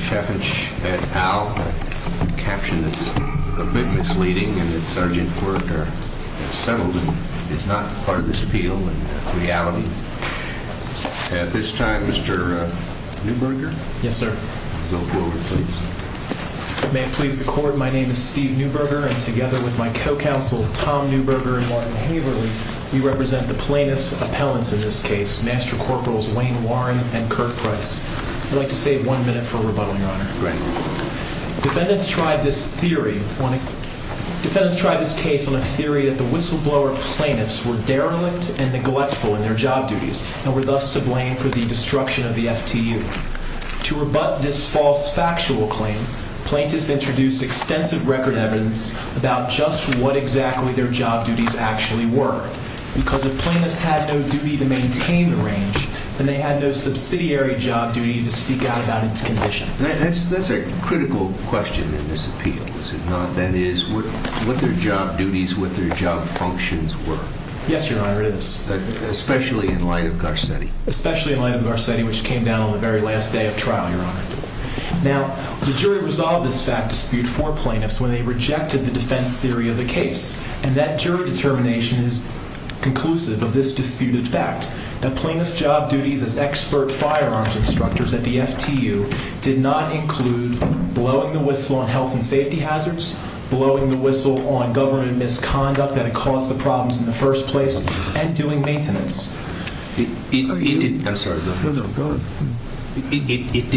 Chaffinch, et al., a caption that's a bit misleading, and that Sgt. Foraker has settled and is not part of this appeal and reality. At this time, Mr. Neuberger. Yes, sir. Go forward, please. May it please the Court, my name is Steve Neuberger, and together with my co-counsel, Tom Neuberger and Warren Haverly, we represent the plaintiff's appellants in this case, Master Corporals Wayne Warren and Kirk Price. I'd like to save one minute for a rebuttal, Your Honor. Great. Defendants tried this case on a theory that the whistleblower plaintiffs were derelict and neglectful in their job duties and were thus to blame for the destruction of the FTU. To rebut this false factual claim, plaintiffs introduced extensive record evidence about just what exactly their job duties actually were. Because if plaintiffs had no duty to maintain the range, then they had no subsidiary job duty to speak out about its condition. That's a critical question in this appeal, is it not? That is, what their job duties, what their job functions were. Yes, Your Honor, it is. Especially in light of Garcetti. Especially in light of Garcetti, which came down on the very last day of trial, Your Honor. Now, the jury resolved this fact dispute for plaintiffs when they rejected the defense theory of the case, and that jury determination is conclusive of this disputed fact, that plaintiffs' job duties as expert firearms instructors at the FTU did not include blowing the whistle on health and safety hazards, blowing the whistle on government misconduct that had caused the problems in the first place, and doing maintenance. It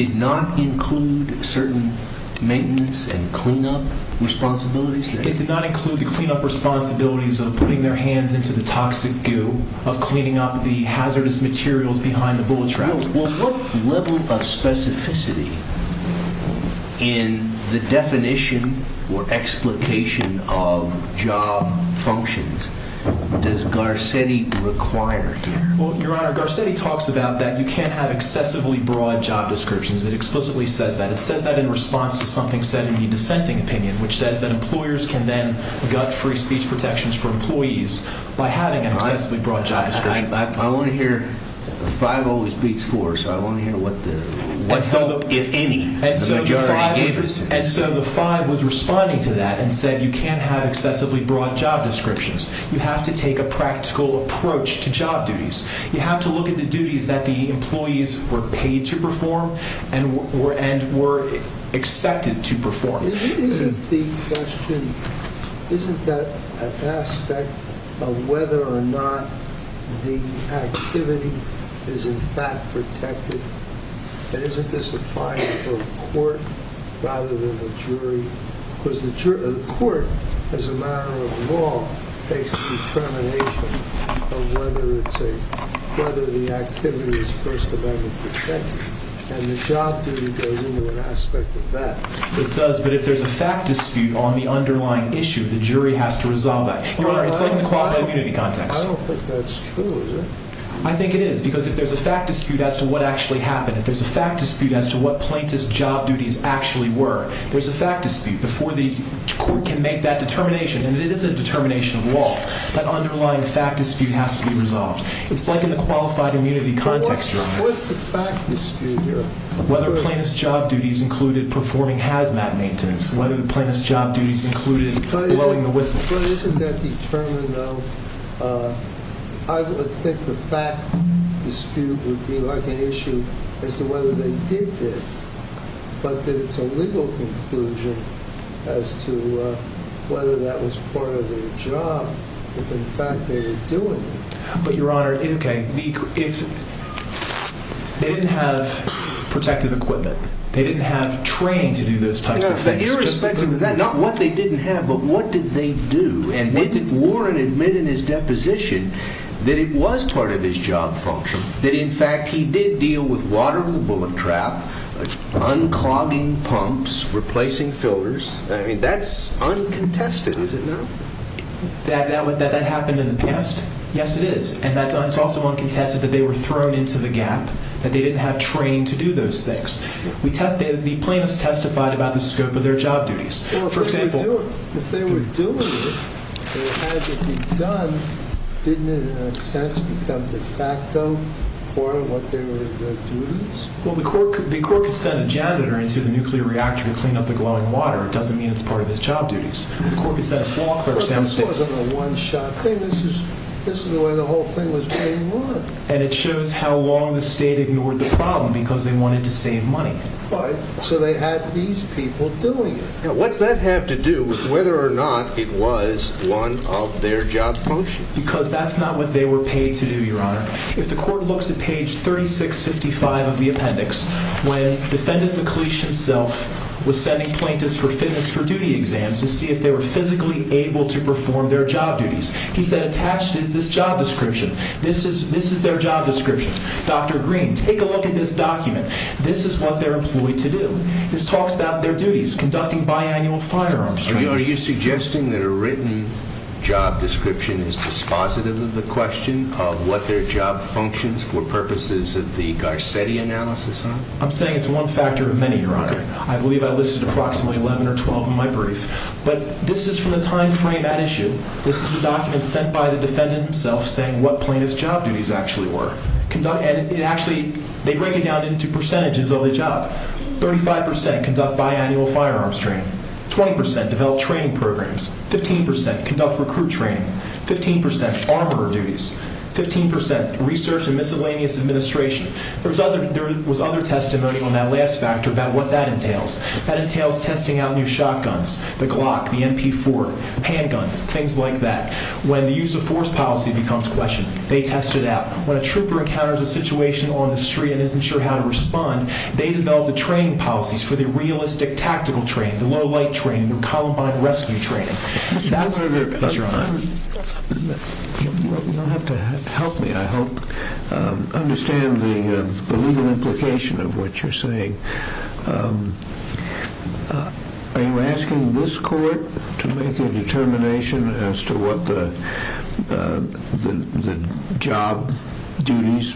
did not include certain maintenance and cleanup responsibilities? It did not include the cleanup responsibilities of putting their hands into the toxic goo, of cleaning up the hazardous materials behind the bullet traps. Well, what level of specificity in the definition or explication of job functions does Garcetti require here? Well, Your Honor, Garcetti talks about that you can't have excessively broad job descriptions. It explicitly says that. It says that in response to something said in the dissenting opinion, which says that employers can then gut free speech protections for employees by having an excessively broad job description. I want to hear, five always beats four, so I want to hear what the majority gave us. And so the five was responding to that and said you can't have excessively broad job descriptions. You have to take a practical approach to job duties. You have to look at the duties that the employees were paid to perform and were expected to perform. Isn't the question, isn't that an aspect of whether or not the activity is in fact protected? And isn't this defined for the court rather than the jury? Because the court, as a matter of law, takes the determination of whether the activity is First Amendment protected. And the job duty goes into an aspect of that. It does, but if there's a fact dispute on the underlying issue, the jury has to resolve that. Your Honor, it's like in the quality of community context. I don't think that's true, is it? I think it is, because if there's a fact dispute as to what actually happened, if there's a fact dispute as to what plaintiff's job duties actually were, there's a fact dispute before the court can make that determination. And it is a determination of law. That underlying fact dispute has to be resolved. It's like in the qualified immunity context, Your Honor. What's the fact dispute here? Whether plaintiff's job duties included performing hazmat maintenance, whether the plaintiff's job duties included blowing the whistle. But isn't that determined, though? I would think the fact dispute would be like an issue as to whether they did this, but that it's a legal conclusion as to whether that was part of their job, if in fact they were doing it. But, Your Honor, they didn't have protective equipment. They didn't have training to do those types of things. Irrespective of that, not what they didn't have, but what did they do? And did Warren admit in his deposition that it was part of his job function, that, in fact, he did deal with watering the bullet trap, unclogging pumps, replacing filters? I mean, that's uncontested, is it not? That that happened in the past? Yes, it is. And it's also uncontested that they were thrown into the gap, that they didn't have training to do those things. The plaintiffs testified about the scope of their job duties. Well, if they were doing it, and it had to be done, didn't it, in a sense, become de facto part of what their duties? Well, the court could send a janitor into the nuclear reactor to clean up the glowing water. It doesn't mean it's part of his job duties. The court could send a law clerk downstairs. But that wasn't a one-shot thing. This is the way the whole thing was going on. And it shows how long the state ignored the problem because they wanted to save money. But so they had these people doing it. Now, what's that have to do with whether or not it was one of their job functions? Because that's not what they were paid to do, Your Honor. If the court looks at page 3655 of the appendix, when Defendant McLeish himself was sending plaintiffs for fitness for duty exams to see if they were physically able to perform their job duties, he said attached is this job description. This is their job description. Dr. Green, take a look at this document. This is what they're employed to do. This talks about their duties, conducting biannual firearms training. Are you suggesting that a written job description is dispositive of the question of what their job functions for purposes of the Garcetti analysis? I'm saying it's one factor of many, Your Honor. I believe I listed approximately 11 or 12 in my brief. But this is from the time frame at issue. This is a document sent by the defendant himself saying what plaintiff's job duties actually were. And actually, they break it down into percentages of the job. Thirty-five percent conduct biannual firearms training. Twenty percent develop training programs. Fifteen percent conduct recruit training. Fifteen percent armor duties. Fifteen percent research and miscellaneous administration. There was other testimony on that last factor about what that entails. That entails testing out new shotguns, the Glock, the MP4, handguns, things like that. When the use of force policy becomes a question, they test it out. When a trooper encounters a situation on the street and isn't sure how to respond, they develop the training policies for the realistic tactical training, the low-light training, the Columbine rescue training. Your Honor, you don't have to help me. I hope to understand the legal implication of what you're saying. Are you asking this court to make a determination as to what the job duties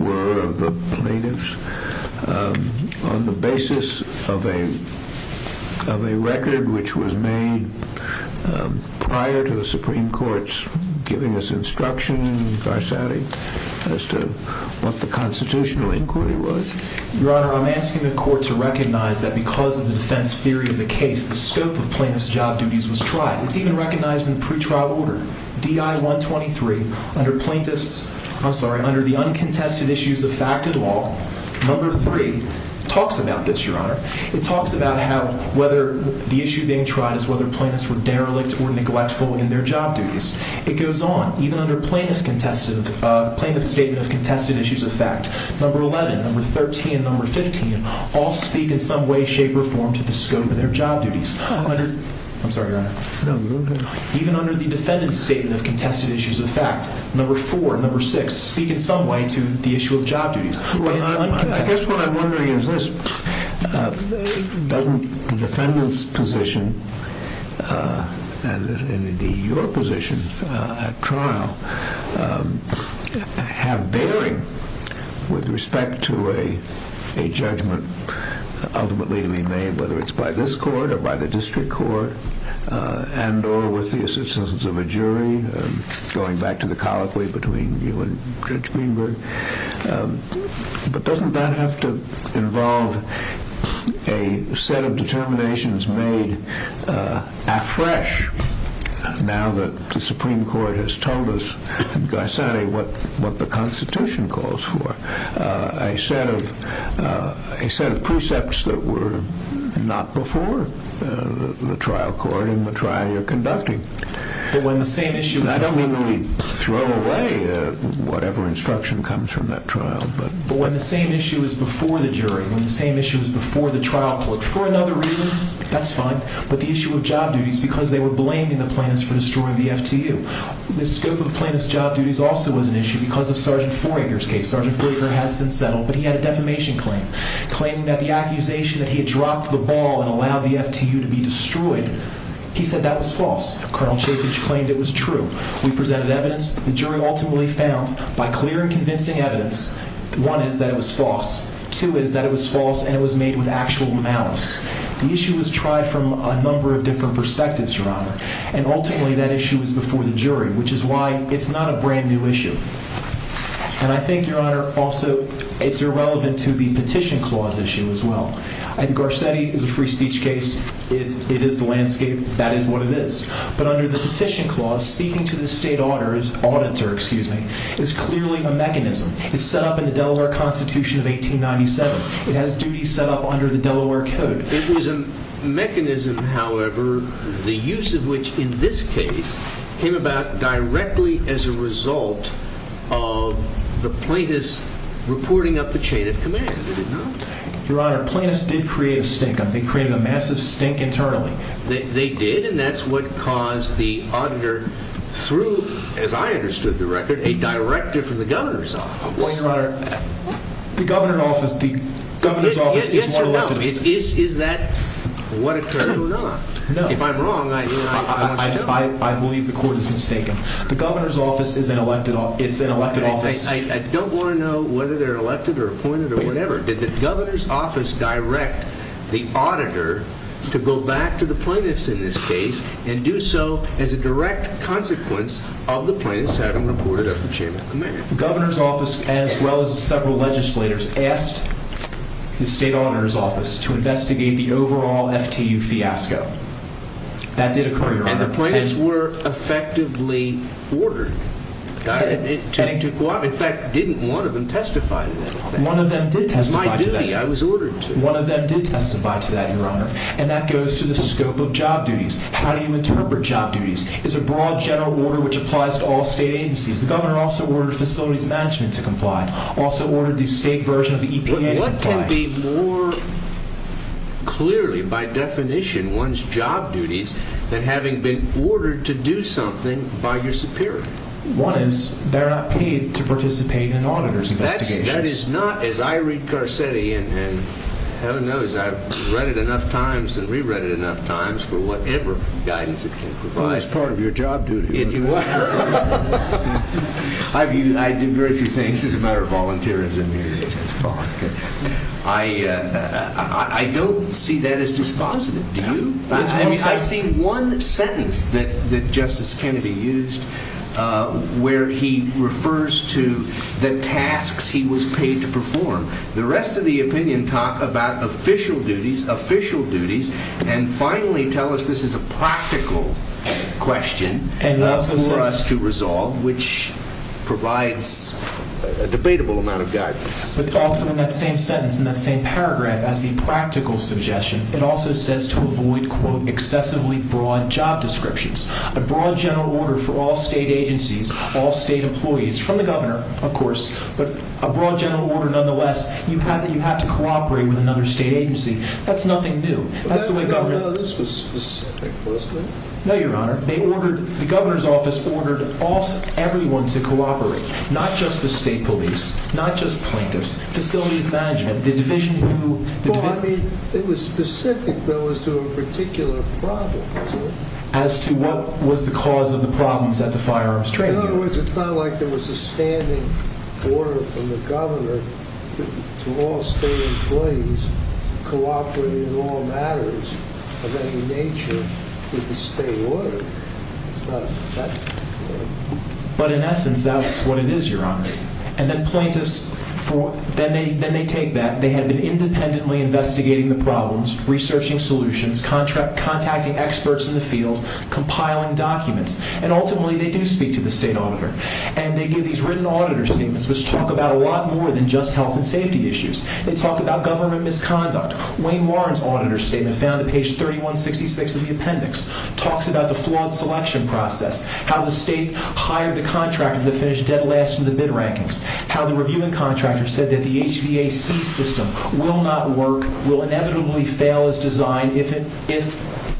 were of the plaintiffs on the basis of a record which was made prior to the Supreme Court's giving us instruction in Varsati as to what the constitutional inquiry was? Your Honor, I'm asking the court to recognize that because of the defense theory of the case, the scope of plaintiffs' job duties was tried. It's even recognized in the pretrial order, DI-123, under the uncontested issues of fact and law, number three talks about this, Your Honor. It talks about how whether the issue being tried is whether plaintiffs were derelict or neglectful in their job duties. It goes on, even under plaintiff's statement of contested issues of fact, number 11, number 13, and number 15 all speak in some way, shape, or form to the scope of their job duties. I'm sorry, Your Honor. Even under the defendant's statement of contested issues of fact, number four and number six speak in some way to the issue of job duties. I guess what I'm wondering is this. Doesn't the defendant's position, and indeed your position at trial, have bearing with respect to a judgment ultimately to be made, whether it's by this court or by the district court and or with the assistance of a jury, going back to the colloquy between you and Judge Greenberg, but doesn't that have to involve a set of determinations made afresh now that the Supreme Court has told us, by saying what the Constitution calls for, a set of precepts that were not before the trial court in the trial you're conducting? I don't mean to throw away whatever instruction comes from that trial. But when the same issue is before the jury, when the same issue is before the trial court, for another reason, that's fine, but the issue of job duties, because they were blaming the plaintiffs for destroying the FTU. The scope of the plaintiff's job duties also was an issue because of Sgt. Foraker's case. Sgt. Foraker has since settled, but he had a defamation claim, claiming that the accusation that he had dropped the ball and allowed the FTU to be destroyed, he said that was false. Col. Chappage claimed it was true. We presented evidence, the jury ultimately found, by clear and convincing evidence, one is that it was false, two is that it was false and it was made with actual malice. The issue was tried from a number of different perspectives, Your Honor, and ultimately that issue was before the jury, which is why it's not a brand new issue. And I think, Your Honor, also it's irrelevant to the petition clause issue as well. I think Garcetti is a free speech case, it is the landscape, that is what it is. But under the petition clause, speaking to the state auditor is clearly a mechanism. It's set up in the Delaware Constitution of 1897. It has duties set up under the Delaware Code. It was a mechanism, however, the use of which, in this case, came about directly as a result of the plaintiffs reporting up the chain of command. Your Honor, plaintiffs did create a stink-up. They created a massive stink internally. They did, and that's what caused the auditor, through, as I understood the record, a directive from the governor's office. Well, Your Honor, the governor's office is an elected office. Yes or no, is that what occurred or not? If I'm wrong, I want you to tell me. I believe the court is mistaken. The governor's office is an elected office. I don't want to know whether they're elected or appointed or whatever. Did the governor's office direct the auditor to go back to the plaintiffs in this case and do so as a direct consequence of the plaintiffs having reported up the chain of command? The governor's office, as well as several legislators, asked the state auditor's office to investigate the overall FTU fiasco. That did occur, Your Honor. And the plaintiffs were effectively ordered. In fact, didn't one of them testify to that? One of them did testify to that. It was my duty. I was ordered to. One of them did testify to that, Your Honor, and that goes to the scope of job duties. How do you interpret job duties? It's a broad general order which applies to all state agencies. The governor also ordered facilities management to comply, also ordered the state version of the EPA to comply. It would be more clearly, by definition, one's job duties than having been ordered to do something by your superior. One is they're not paid to participate in auditor's investigations. That is not, as I read Carcetti, and heaven knows I've read it enough times and re-read it enough times for whatever guidance it can provide. Well, it's part of your job duty. It is. I do very few things as a matter of volunteerism here. I don't see that as dispositive, do you? I see one sentence that Justice Kennedy used where he refers to the tasks he was paid to perform. The rest of the opinion talk about official duties, official duties, and finally tell us this is a practical question. For us to resolve, which provides a debatable amount of guidance. But also in that same sentence, in that same paragraph, as the practical suggestion, it also says to avoid, quote, excessively broad job descriptions. A broad general order for all state agencies, all state employees, from the governor, of course, but a broad general order nonetheless, you have to cooperate with another state agency. That's nothing new. This was specific, wasn't it? No, Your Honor. The governor's office ordered everyone to cooperate, not just the state police, not just plaintiffs, facilities management, the division who... Well, I mean, it was specific, though, as to a particular problem, wasn't it? As to what was the cause of the problems at the firearms trade union. In other words, it's not like there was a standing order from the governor to all state employees to cooperate in all matters of any nature with the state order. It's not that particular. But in essence, that's what it is, Your Honor. And then plaintiffs, then they take that. They had been independently investigating the problems, researching solutions, contacting experts in the field, compiling documents. And ultimately, they do speak to the state auditor. And they give these written auditor statements, which talk about a lot more than just health and safety issues. They talk about government misconduct. Wayne Warren's auditor statement found at page 3166 of the appendix talks about the flawed selection process, how the state hired the contractor to finish dead last in the bid rankings, how the reviewing contractor said that the HVAC system will not work, will inevitably fail its design if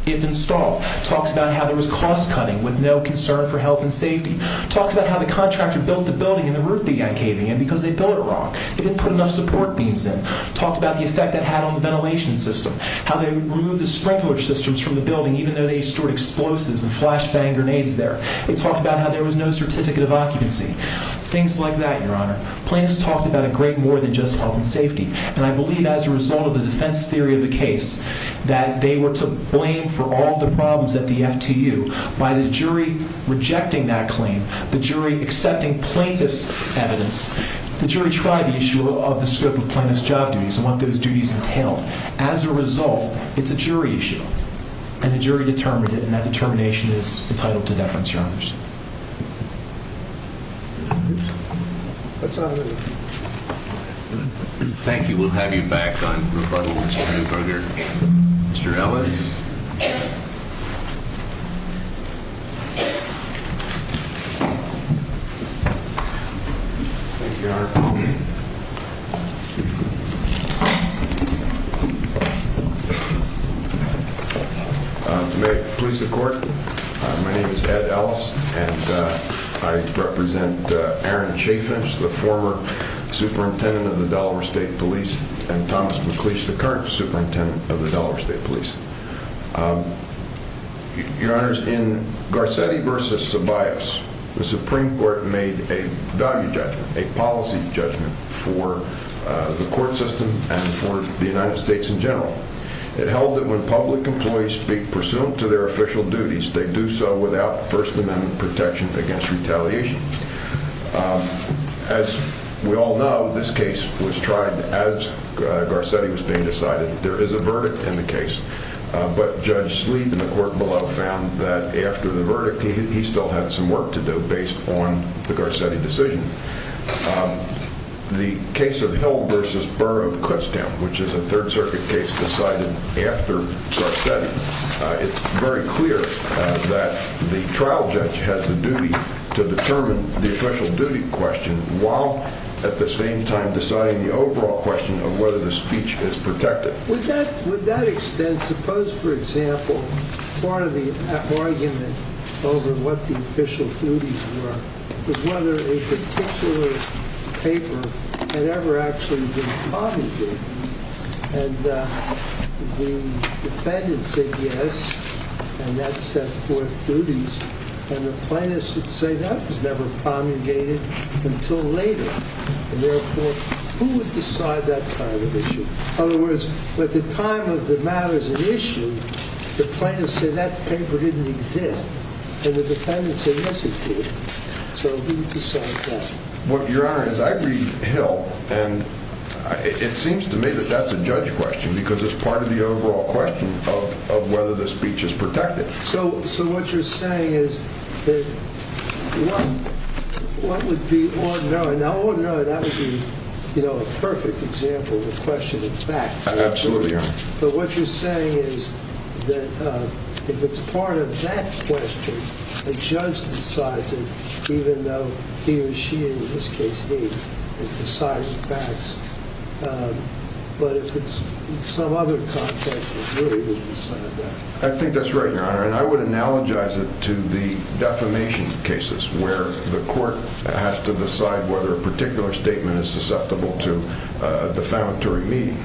installed. Talks about how there was cost-cutting with no concern for health and safety. Talks about how the contractor built the building and the roof began caving in because they built it wrong. They didn't put enough support beams in. Talked about the effect that had on the ventilation system, how they removed the sprinkler systems from the building even though they stored explosives and flashbang grenades there. They talked about how there was no certificate of occupancy. Things like that, Your Honor. Plaintiffs talked about a great more than just health and safety. And I believe as a result of the defense theory of the case that they were to blame for all the problems at the FTU by the jury rejecting that claim, the jury accepting plaintiff's evidence. The jury tried the issue of the scope of plaintiff's job duties and what those duties entailed. As a result, it's a jury issue and the jury determined it and that determination is entitled to deference, Your Honors. Thank you. We'll have you back on rebuttal, Mr. Newberger. Mr. Ellis? Thank you, Your Honor. May it please the Court, my name is Ed Ellis and I represent Aaron Chaffinch, the former superintendent of the Delaware State Police and Thomas McLeish, the current superintendent of the Delaware State Police. Your Honors, in Garcetti v. Ceballos, the Supreme Court made a value judgment, a policy judgment for the court system and for the United States in general. It held that when public employees speak pursuant to their official duties, they do so without First Amendment protection against retaliation. As we all know, this case was tried as Garcetti was being decided. There is a verdict in the case, but Judge Sleet in the court below found that after the verdict, he still had some work to do based on the Garcetti decision. The case of Hill v. Burr of Kutztown, which is a Third Circuit case decided after Garcetti, it's very clear that the trial judge has the duty to determine the official duty question while at the same time deciding the overall question of whether the speech is protected. With that extent, suppose, for example, part of the argument over what the official duties were was whether a particular paper had ever actually been promulgated. And the defendant said yes, and that set forth duties. And the plaintiffs would say that was never promulgated until later. And therefore, who would decide that kind of issue? In other words, at the time of the matters at issue, the plaintiffs said that paper didn't exist, and the defendants said yes, it did. So who decides that? Your Honor, as I read Hill, it seems to me that that's a judge question because it's part of the overall question of whether the speech is protected. So what you're saying is that what would be ordinary? That would be a perfect example of a question of fact. Absolutely, Your Honor. But what you're saying is that if it's part of that question, the judge decides it even though he or she, in this case me, is deciding the facts. But if it's some other context, it really wouldn't decide that. I think that's right, Your Honor, and I would analogize it to the defamation cases where the court has to decide whether a particular statement is susceptible to defamatory meaning.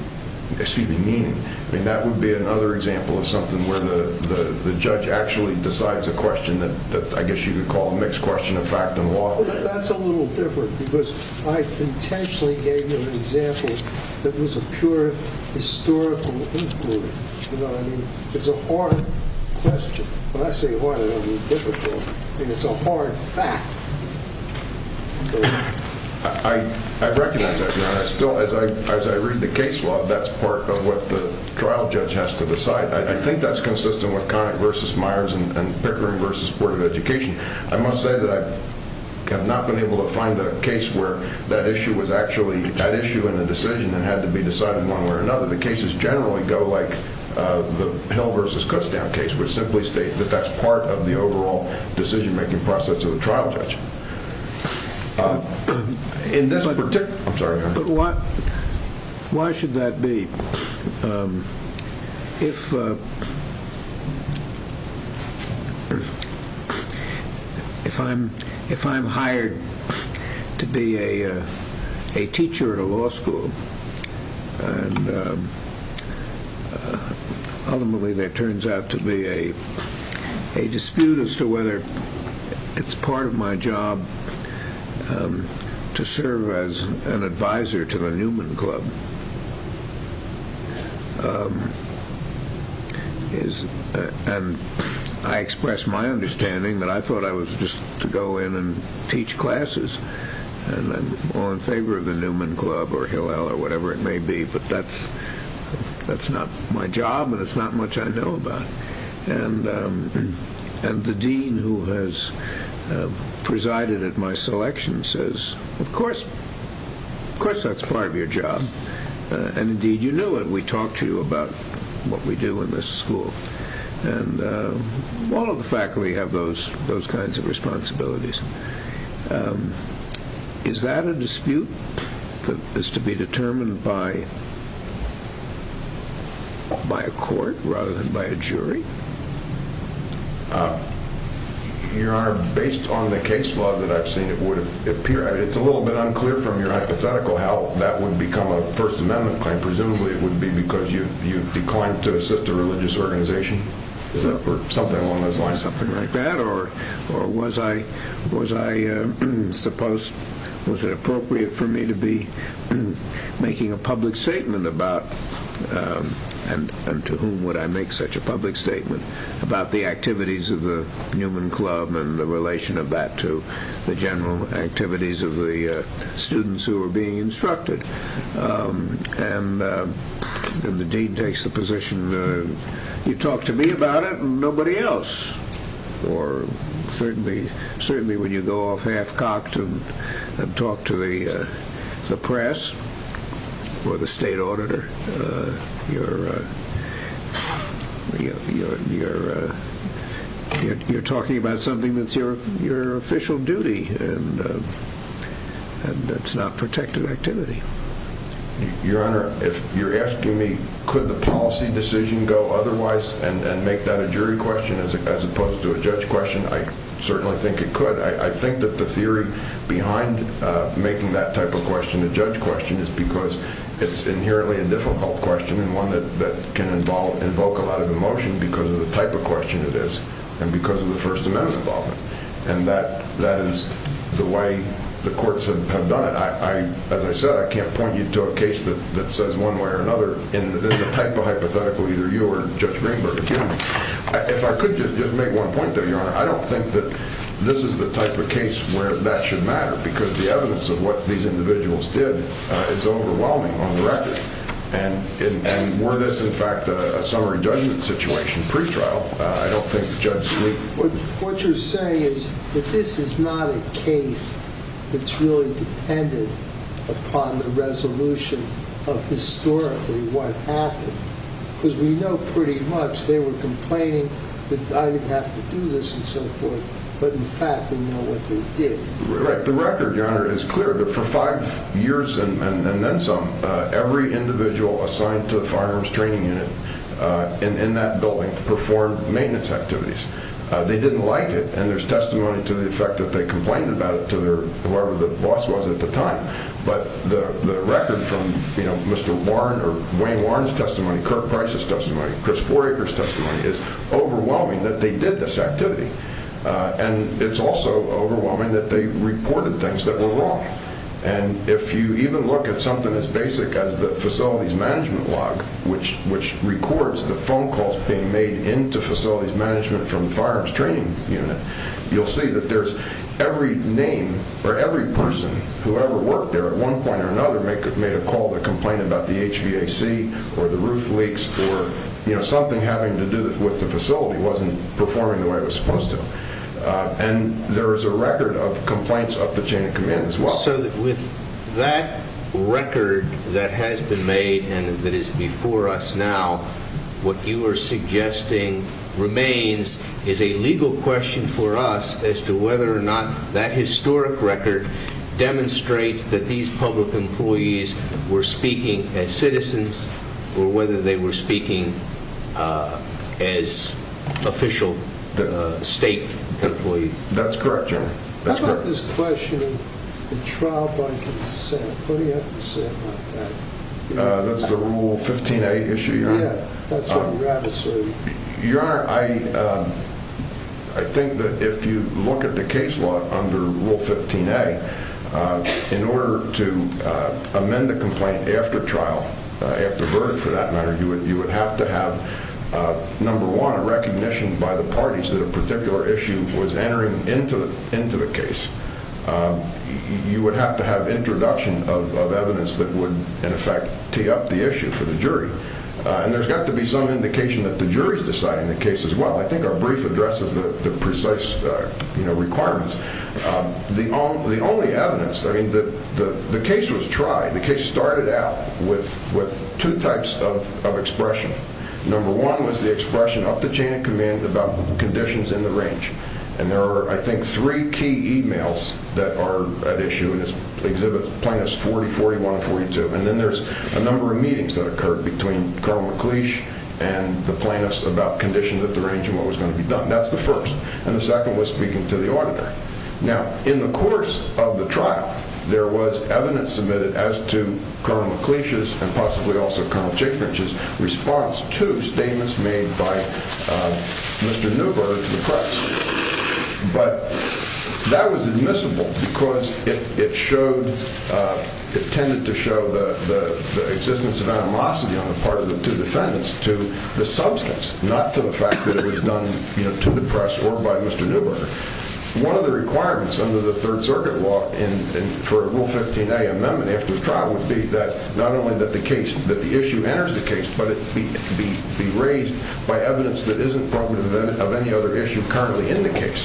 That would be another example of something where the judge actually decides a question that I guess you could call a mixed question of fact and law. That's a little different because I intentionally gave you an example that was a pure historical inquiry. It's a hard question. When I say hard, I mean difficult, and it's a hard fact. I recognize that, Your Honor. As I read the case law, that's part of what the trial judge has to decide. I think that's consistent with Conant v. Myers and Pickering v. Board of Education. I must say that I have not been able to find a case where that issue was actually at issue in the decision and had to be decided one way or another. The cases generally go like the Hill v. Kutztown case, which simply states that that's part of the overall decision-making process of the trial judge. I'm sorry, Your Honor. Why should that be? If I'm hired to be a teacher at a law school, and ultimately there turns out to be a dispute as to whether it's part of my job to serve as an advisor to the Newman Club. I expressed my understanding that I thought I was just to go in and teach classes and I'm all in favor of the Newman Club or Hillel or whatever it may be, but that's not my job and it's not much I know about. The dean who has presided at my selection says, of course that's part of your job, and indeed you know it. We talk to you about what we do in this school. All of the faculty have those kinds of responsibilities. Is that a dispute that is to be determined by a court rather than by a jury? Your Honor, based on the case law that I've seen, it's a little bit unclear from your hypothetical how that would become a First Amendment claim. Presumably it would be because you declined to assist a religious organization or something along those lines. Or was it appropriate for me to be making a public statement about, and to whom would I make such a public statement, about the activities of the Newman Club and the relation of that to the general activities of the students who were being instructed? And the dean takes the position, you talk to me about it and nobody else. Or certainly when you go off half-cocked and talk to the press or the state auditor, you're talking about something that's your official duty and it's not protected activity. Your Honor, if you're asking me could the policy decision go otherwise and make that a jury question as opposed to a judge question, I certainly think it could. I think that the theory behind making that type of question a judge question is because it's inherently a difficult question and one that can invoke a lot of emotion because of the type of question it is and because of the First Amendment involvement. And that is the way the courts have done it. As I said, I can't point you to a case that says one way or another in the type of hypothetical either you or Judge Greenberg are dealing with. If I could just make one point though, Your Honor, I don't think that this is the type of case where that should matter because the evidence of what these individuals did is overwhelming on the record. And were this in fact a summary judgment situation pre-trial, I don't think Judge Gleeson would. What you're saying is that this is not a case that's really dependent upon the resolution of historically what happened. Because we know pretty much they were complaining that I didn't have to do this and so forth, but in fact we know what they did. Right. The record, Your Honor, is clear that for five years and then some, every individual assigned to the firearms training unit in that building performed maintenance activities. They didn't like it and there's testimony to the effect that they complained about it to whoever the boss was at the time. But the record from Mr. Warren or Wayne Warren's testimony, Kirk Price's testimony, Chris Foraker's testimony, is overwhelming that they did this activity. And it's also overwhelming that they reported things that were wrong. And if you even look at something as basic as the facilities management log, which records the phone calls being made into facilities management from the firearms training unit, you'll see that there's every name or every person who ever worked there at one point or another made a call to complain about the HVAC or the roof leaks or something having to do with the facility wasn't performing the way it was supposed to. And there is a record of complaints up the chain of command as well. So with that record that has been made and that is before us now, what you are suggesting remains is a legal question for us as to whether or not that historic record demonstrates that these public employees were speaking as citizens or whether they were speaking as official state employees. That's correct, Your Honor. How about this question of the trial by consent? What do you have to say about that? That's the Rule 15a issue, Your Honor. Yeah, that's what you have to say. Your Honor, I think that if you look at the case law under Rule 15a, in order to amend a complaint after trial, after verdict for that matter, you would have to have, number one, a recognition by the parties that a particular issue was entering into the case. You would have to have introduction of evidence that would, in effect, tee up the issue for the jury. And there's got to be some indication that the jury is deciding the case as well. I think our brief addresses the precise requirements. The only evidence, I mean, the case was tried. The case started out with two types of expression. Number one was the expression up the chain of command about conditions in the range. And there are, I think, three key e-mails that are at issue in this exhibit, plaintiffs 40, 41, and 42. And then there's a number of meetings that occurred between Colonel McLeish and the plaintiffs about conditions at the range and what was going to be done. That's the first. And the second was speaking to the auditor. Now, in the course of the trial, there was evidence submitted as to response to statements made by Mr. Neuberger to the press. But that was admissible because it tended to show the existence of animosity on the part of the two defendants to the substance, not to the fact that it was done to the press or by Mr. Neuberger. One of the requirements under the Third Circuit law for Rule 15a amendment after the trial would be that not only that the issue enters the case, but it be raised by evidence that isn't proven of any other issue currently in the case.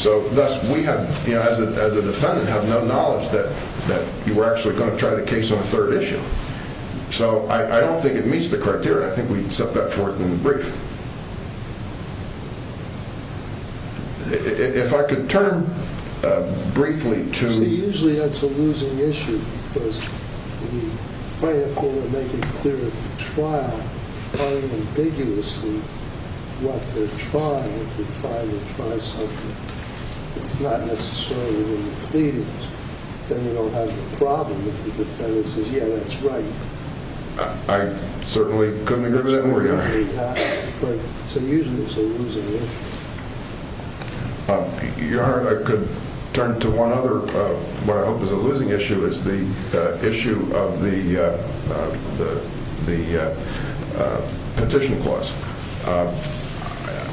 So thus, we as a defendant have no knowledge that you were actually going to try the case on a third issue. So I don't think it meets the criteria. I think we set that forth in the brief. If I could turn briefly to— I certainly couldn't agree with that more, Your Honor. So usually it's a losing issue. Your Honor, I could turn to one other, what I hope is a losing issue, is the issue of the petition clause.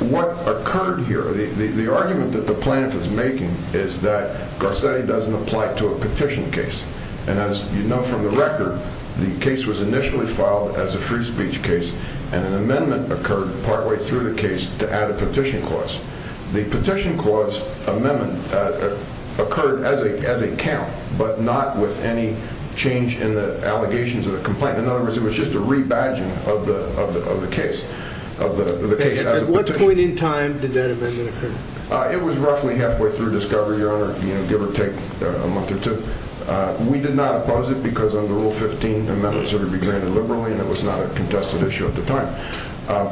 What occurred here, the argument that the plaintiff is making, is that Garcetti doesn't apply to a petition case. And as you know from the record, the case was initially filed as a free speech case, and an amendment occurred partway through the case to add a petition clause. The petition clause amendment occurred as a count, but not with any change in the allegations of the complaint. In other words, it was just a rebadging of the case. At what point in time did that amendment occur? It was roughly halfway through discovery, Your Honor, give or take a month or two. We did not oppose it because under Rule 15, amendments are to be granted liberally, and it was not a contested issue at the time.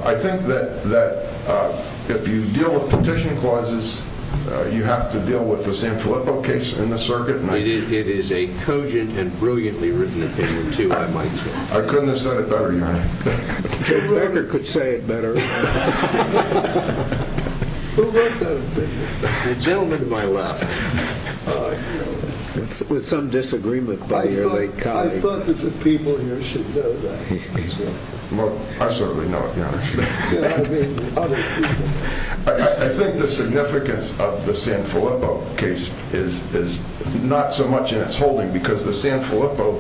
I think that if you deal with petition clauses, you have to deal with the San Filippo case in the circuit. It is a cogent and brilliantly written opinion, too, I might say. I couldn't have said it better, Your Honor. Who ever could say it better? Who wrote that opinion? The gentleman to my left. With some disagreement by your late colleague. I thought that the people here should know that. I certainly know it, Your Honor. I think the significance of the San Filippo case is not so much in its holding because the San Filippo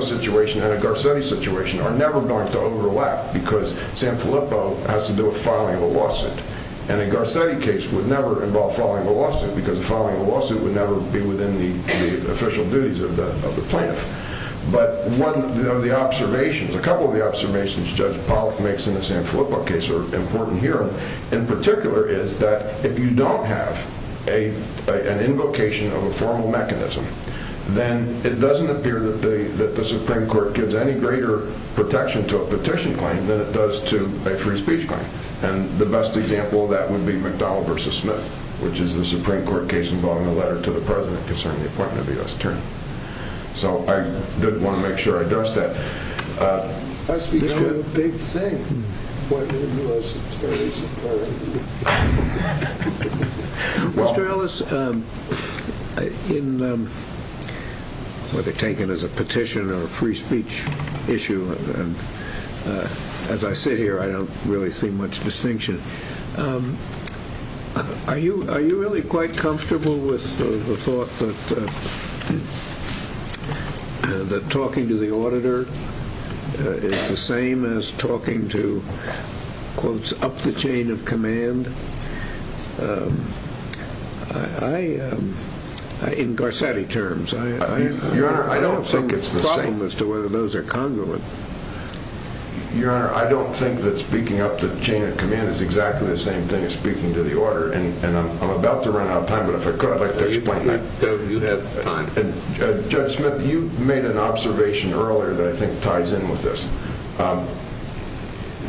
situation and the Garcetti situation are never going to overlap because San Filippo has to do with filing a lawsuit, and a Garcetti case would never involve filing a lawsuit because filing a lawsuit would never be within the official duties of the plaintiff. But one of the observations, a couple of the observations Judge Pollack makes in the San Filippo case are important here, in particular, is that if you don't have an invocation of a formal mechanism, then it doesn't appear that the Supreme Court gives any greater protection to a petition claim than it does to a free speech claim. And the best example of that would be McDowell v. Smith, which is the Supreme Court case involving a letter to the President concerning the appointment of the U.S. Attorney. So I did want to make sure I addressed that. I speak to a big thing, the appointment of the U.S. Attorney's Attorney. Mr. Ellis, whether taken as a petition or a free speech issue, as I sit here, I don't really see much distinction. Are you really quite comfortable with the thought that talking to the auditor is the same as talking to, quote, up the chain of command? In Garcetti terms, I don't think it's the same. Your Honor, I don't think it's the same. As to whether those are congruent. Your Honor, I don't think that speaking up the chain of command is exactly the same thing as speaking to the auditor. And I'm about to run out of time, but if I could, I'd like to explain that. You have time. Judge Smith, you made an observation earlier that I think ties in with this.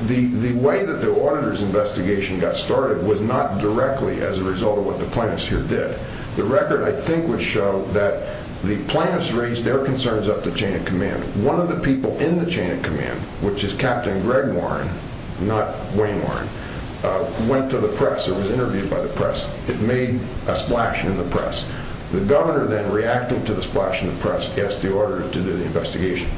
The way that the auditor's investigation got started was not directly as a result of what the plaintiffs here did. The record, I think, would show that the plaintiffs raised their concerns up the chain of command. One of the people in the chain of command, which is Captain Greg Warren, not Wayne Warren, went to the press or was interviewed by the press. It made a splash in the press. The governor then reacted to the splash in the press, asked the auditor to do the investigation.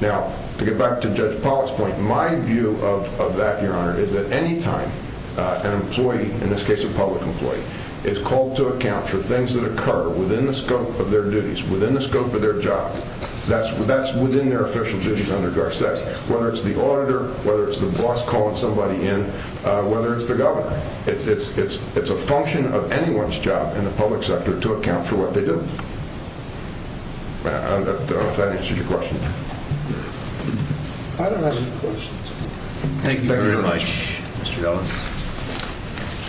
Now, to get back to Judge Pollack's point, my view of that, Your Honor, is that anytime an employee, in this case a public employee, is called to account for things that occur within the scope of their duties, within the scope of their job, that's within their official duties under Garcetti. Whether it's the auditor, whether it's the boss calling somebody in, whether it's the governor. It's a function of anyone's job in the public sector to account for what they do. If that answers your question. I don't have any questions. Thank you very much, Mr. Ellis.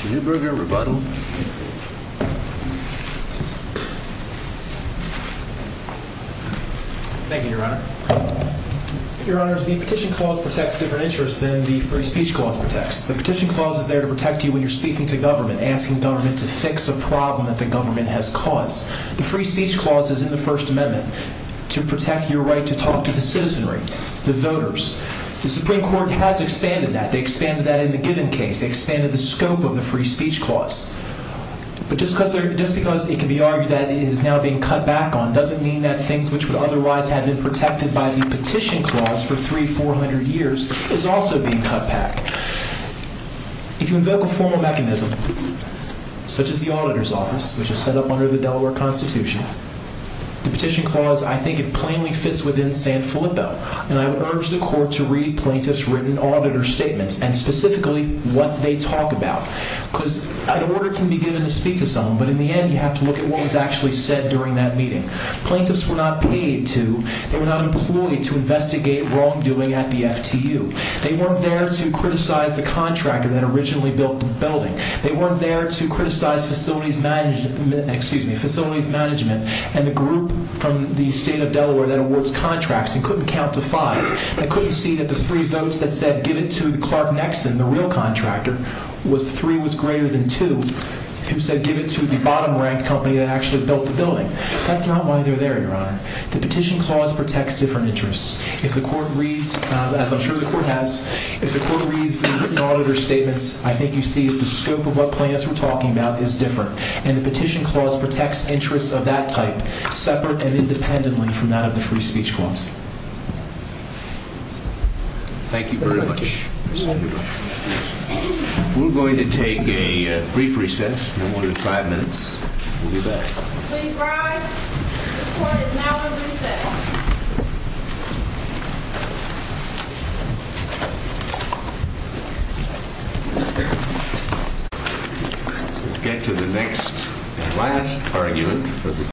Newburger, rebuttal. Thank you, Your Honor. Your Honors, the petition clause protects different interests than the free speech clause protects. The petition clause is there to protect you when you're speaking to government, asking government to fix a problem that the government has caused. The free speech clause is in the First Amendment to protect your right to talk to the citizenry, the voters. The Supreme Court has expanded that. They expanded that in the given case. They expanded the scope of the free speech clause. But just because it can be argued that it is now being cut back on doesn't mean that things which would otherwise have been protected by the petition clause for three, four hundred years is also being cut back. If you invoke a formal mechanism, such as the auditor's office, which is set up under the Delaware Constitution, the petition clause, I think it plainly fits within San Filippo. And I would urge the court to read plaintiffs' written auditor statements and specifically what they talk about. Because an order can be given to speak to someone, but in the end you have to look at what was actually said during that meeting. Plaintiffs were not paid to, they were not employed to investigate wrongdoing at the FTU. They weren't there to criticize the contractor that originally built the building. They weren't there to criticize facilities management, excuse me, facilities management, and the group from the state of Delaware that awards contracts and couldn't count to five. They couldn't see that the three votes that said give it to Clark Nexon, the real contractor, where three was greater than two, who said give it to the bottom-ranked company that actually built the building. That's not why they're there, Your Honor. The petition clause protects different interests. If the court reads, as I'm sure the court has, if the court reads the written auditor statements, I think you see that the scope of what plaintiffs were talking about is different. And the petition clause protects interests of that type, separate and independently from that of the free speech clause. Thank you very much. We're going to take a brief recess. No more than five minutes. We'll be back. Please rise. The court is now at recess. We'll get to the next and last argument.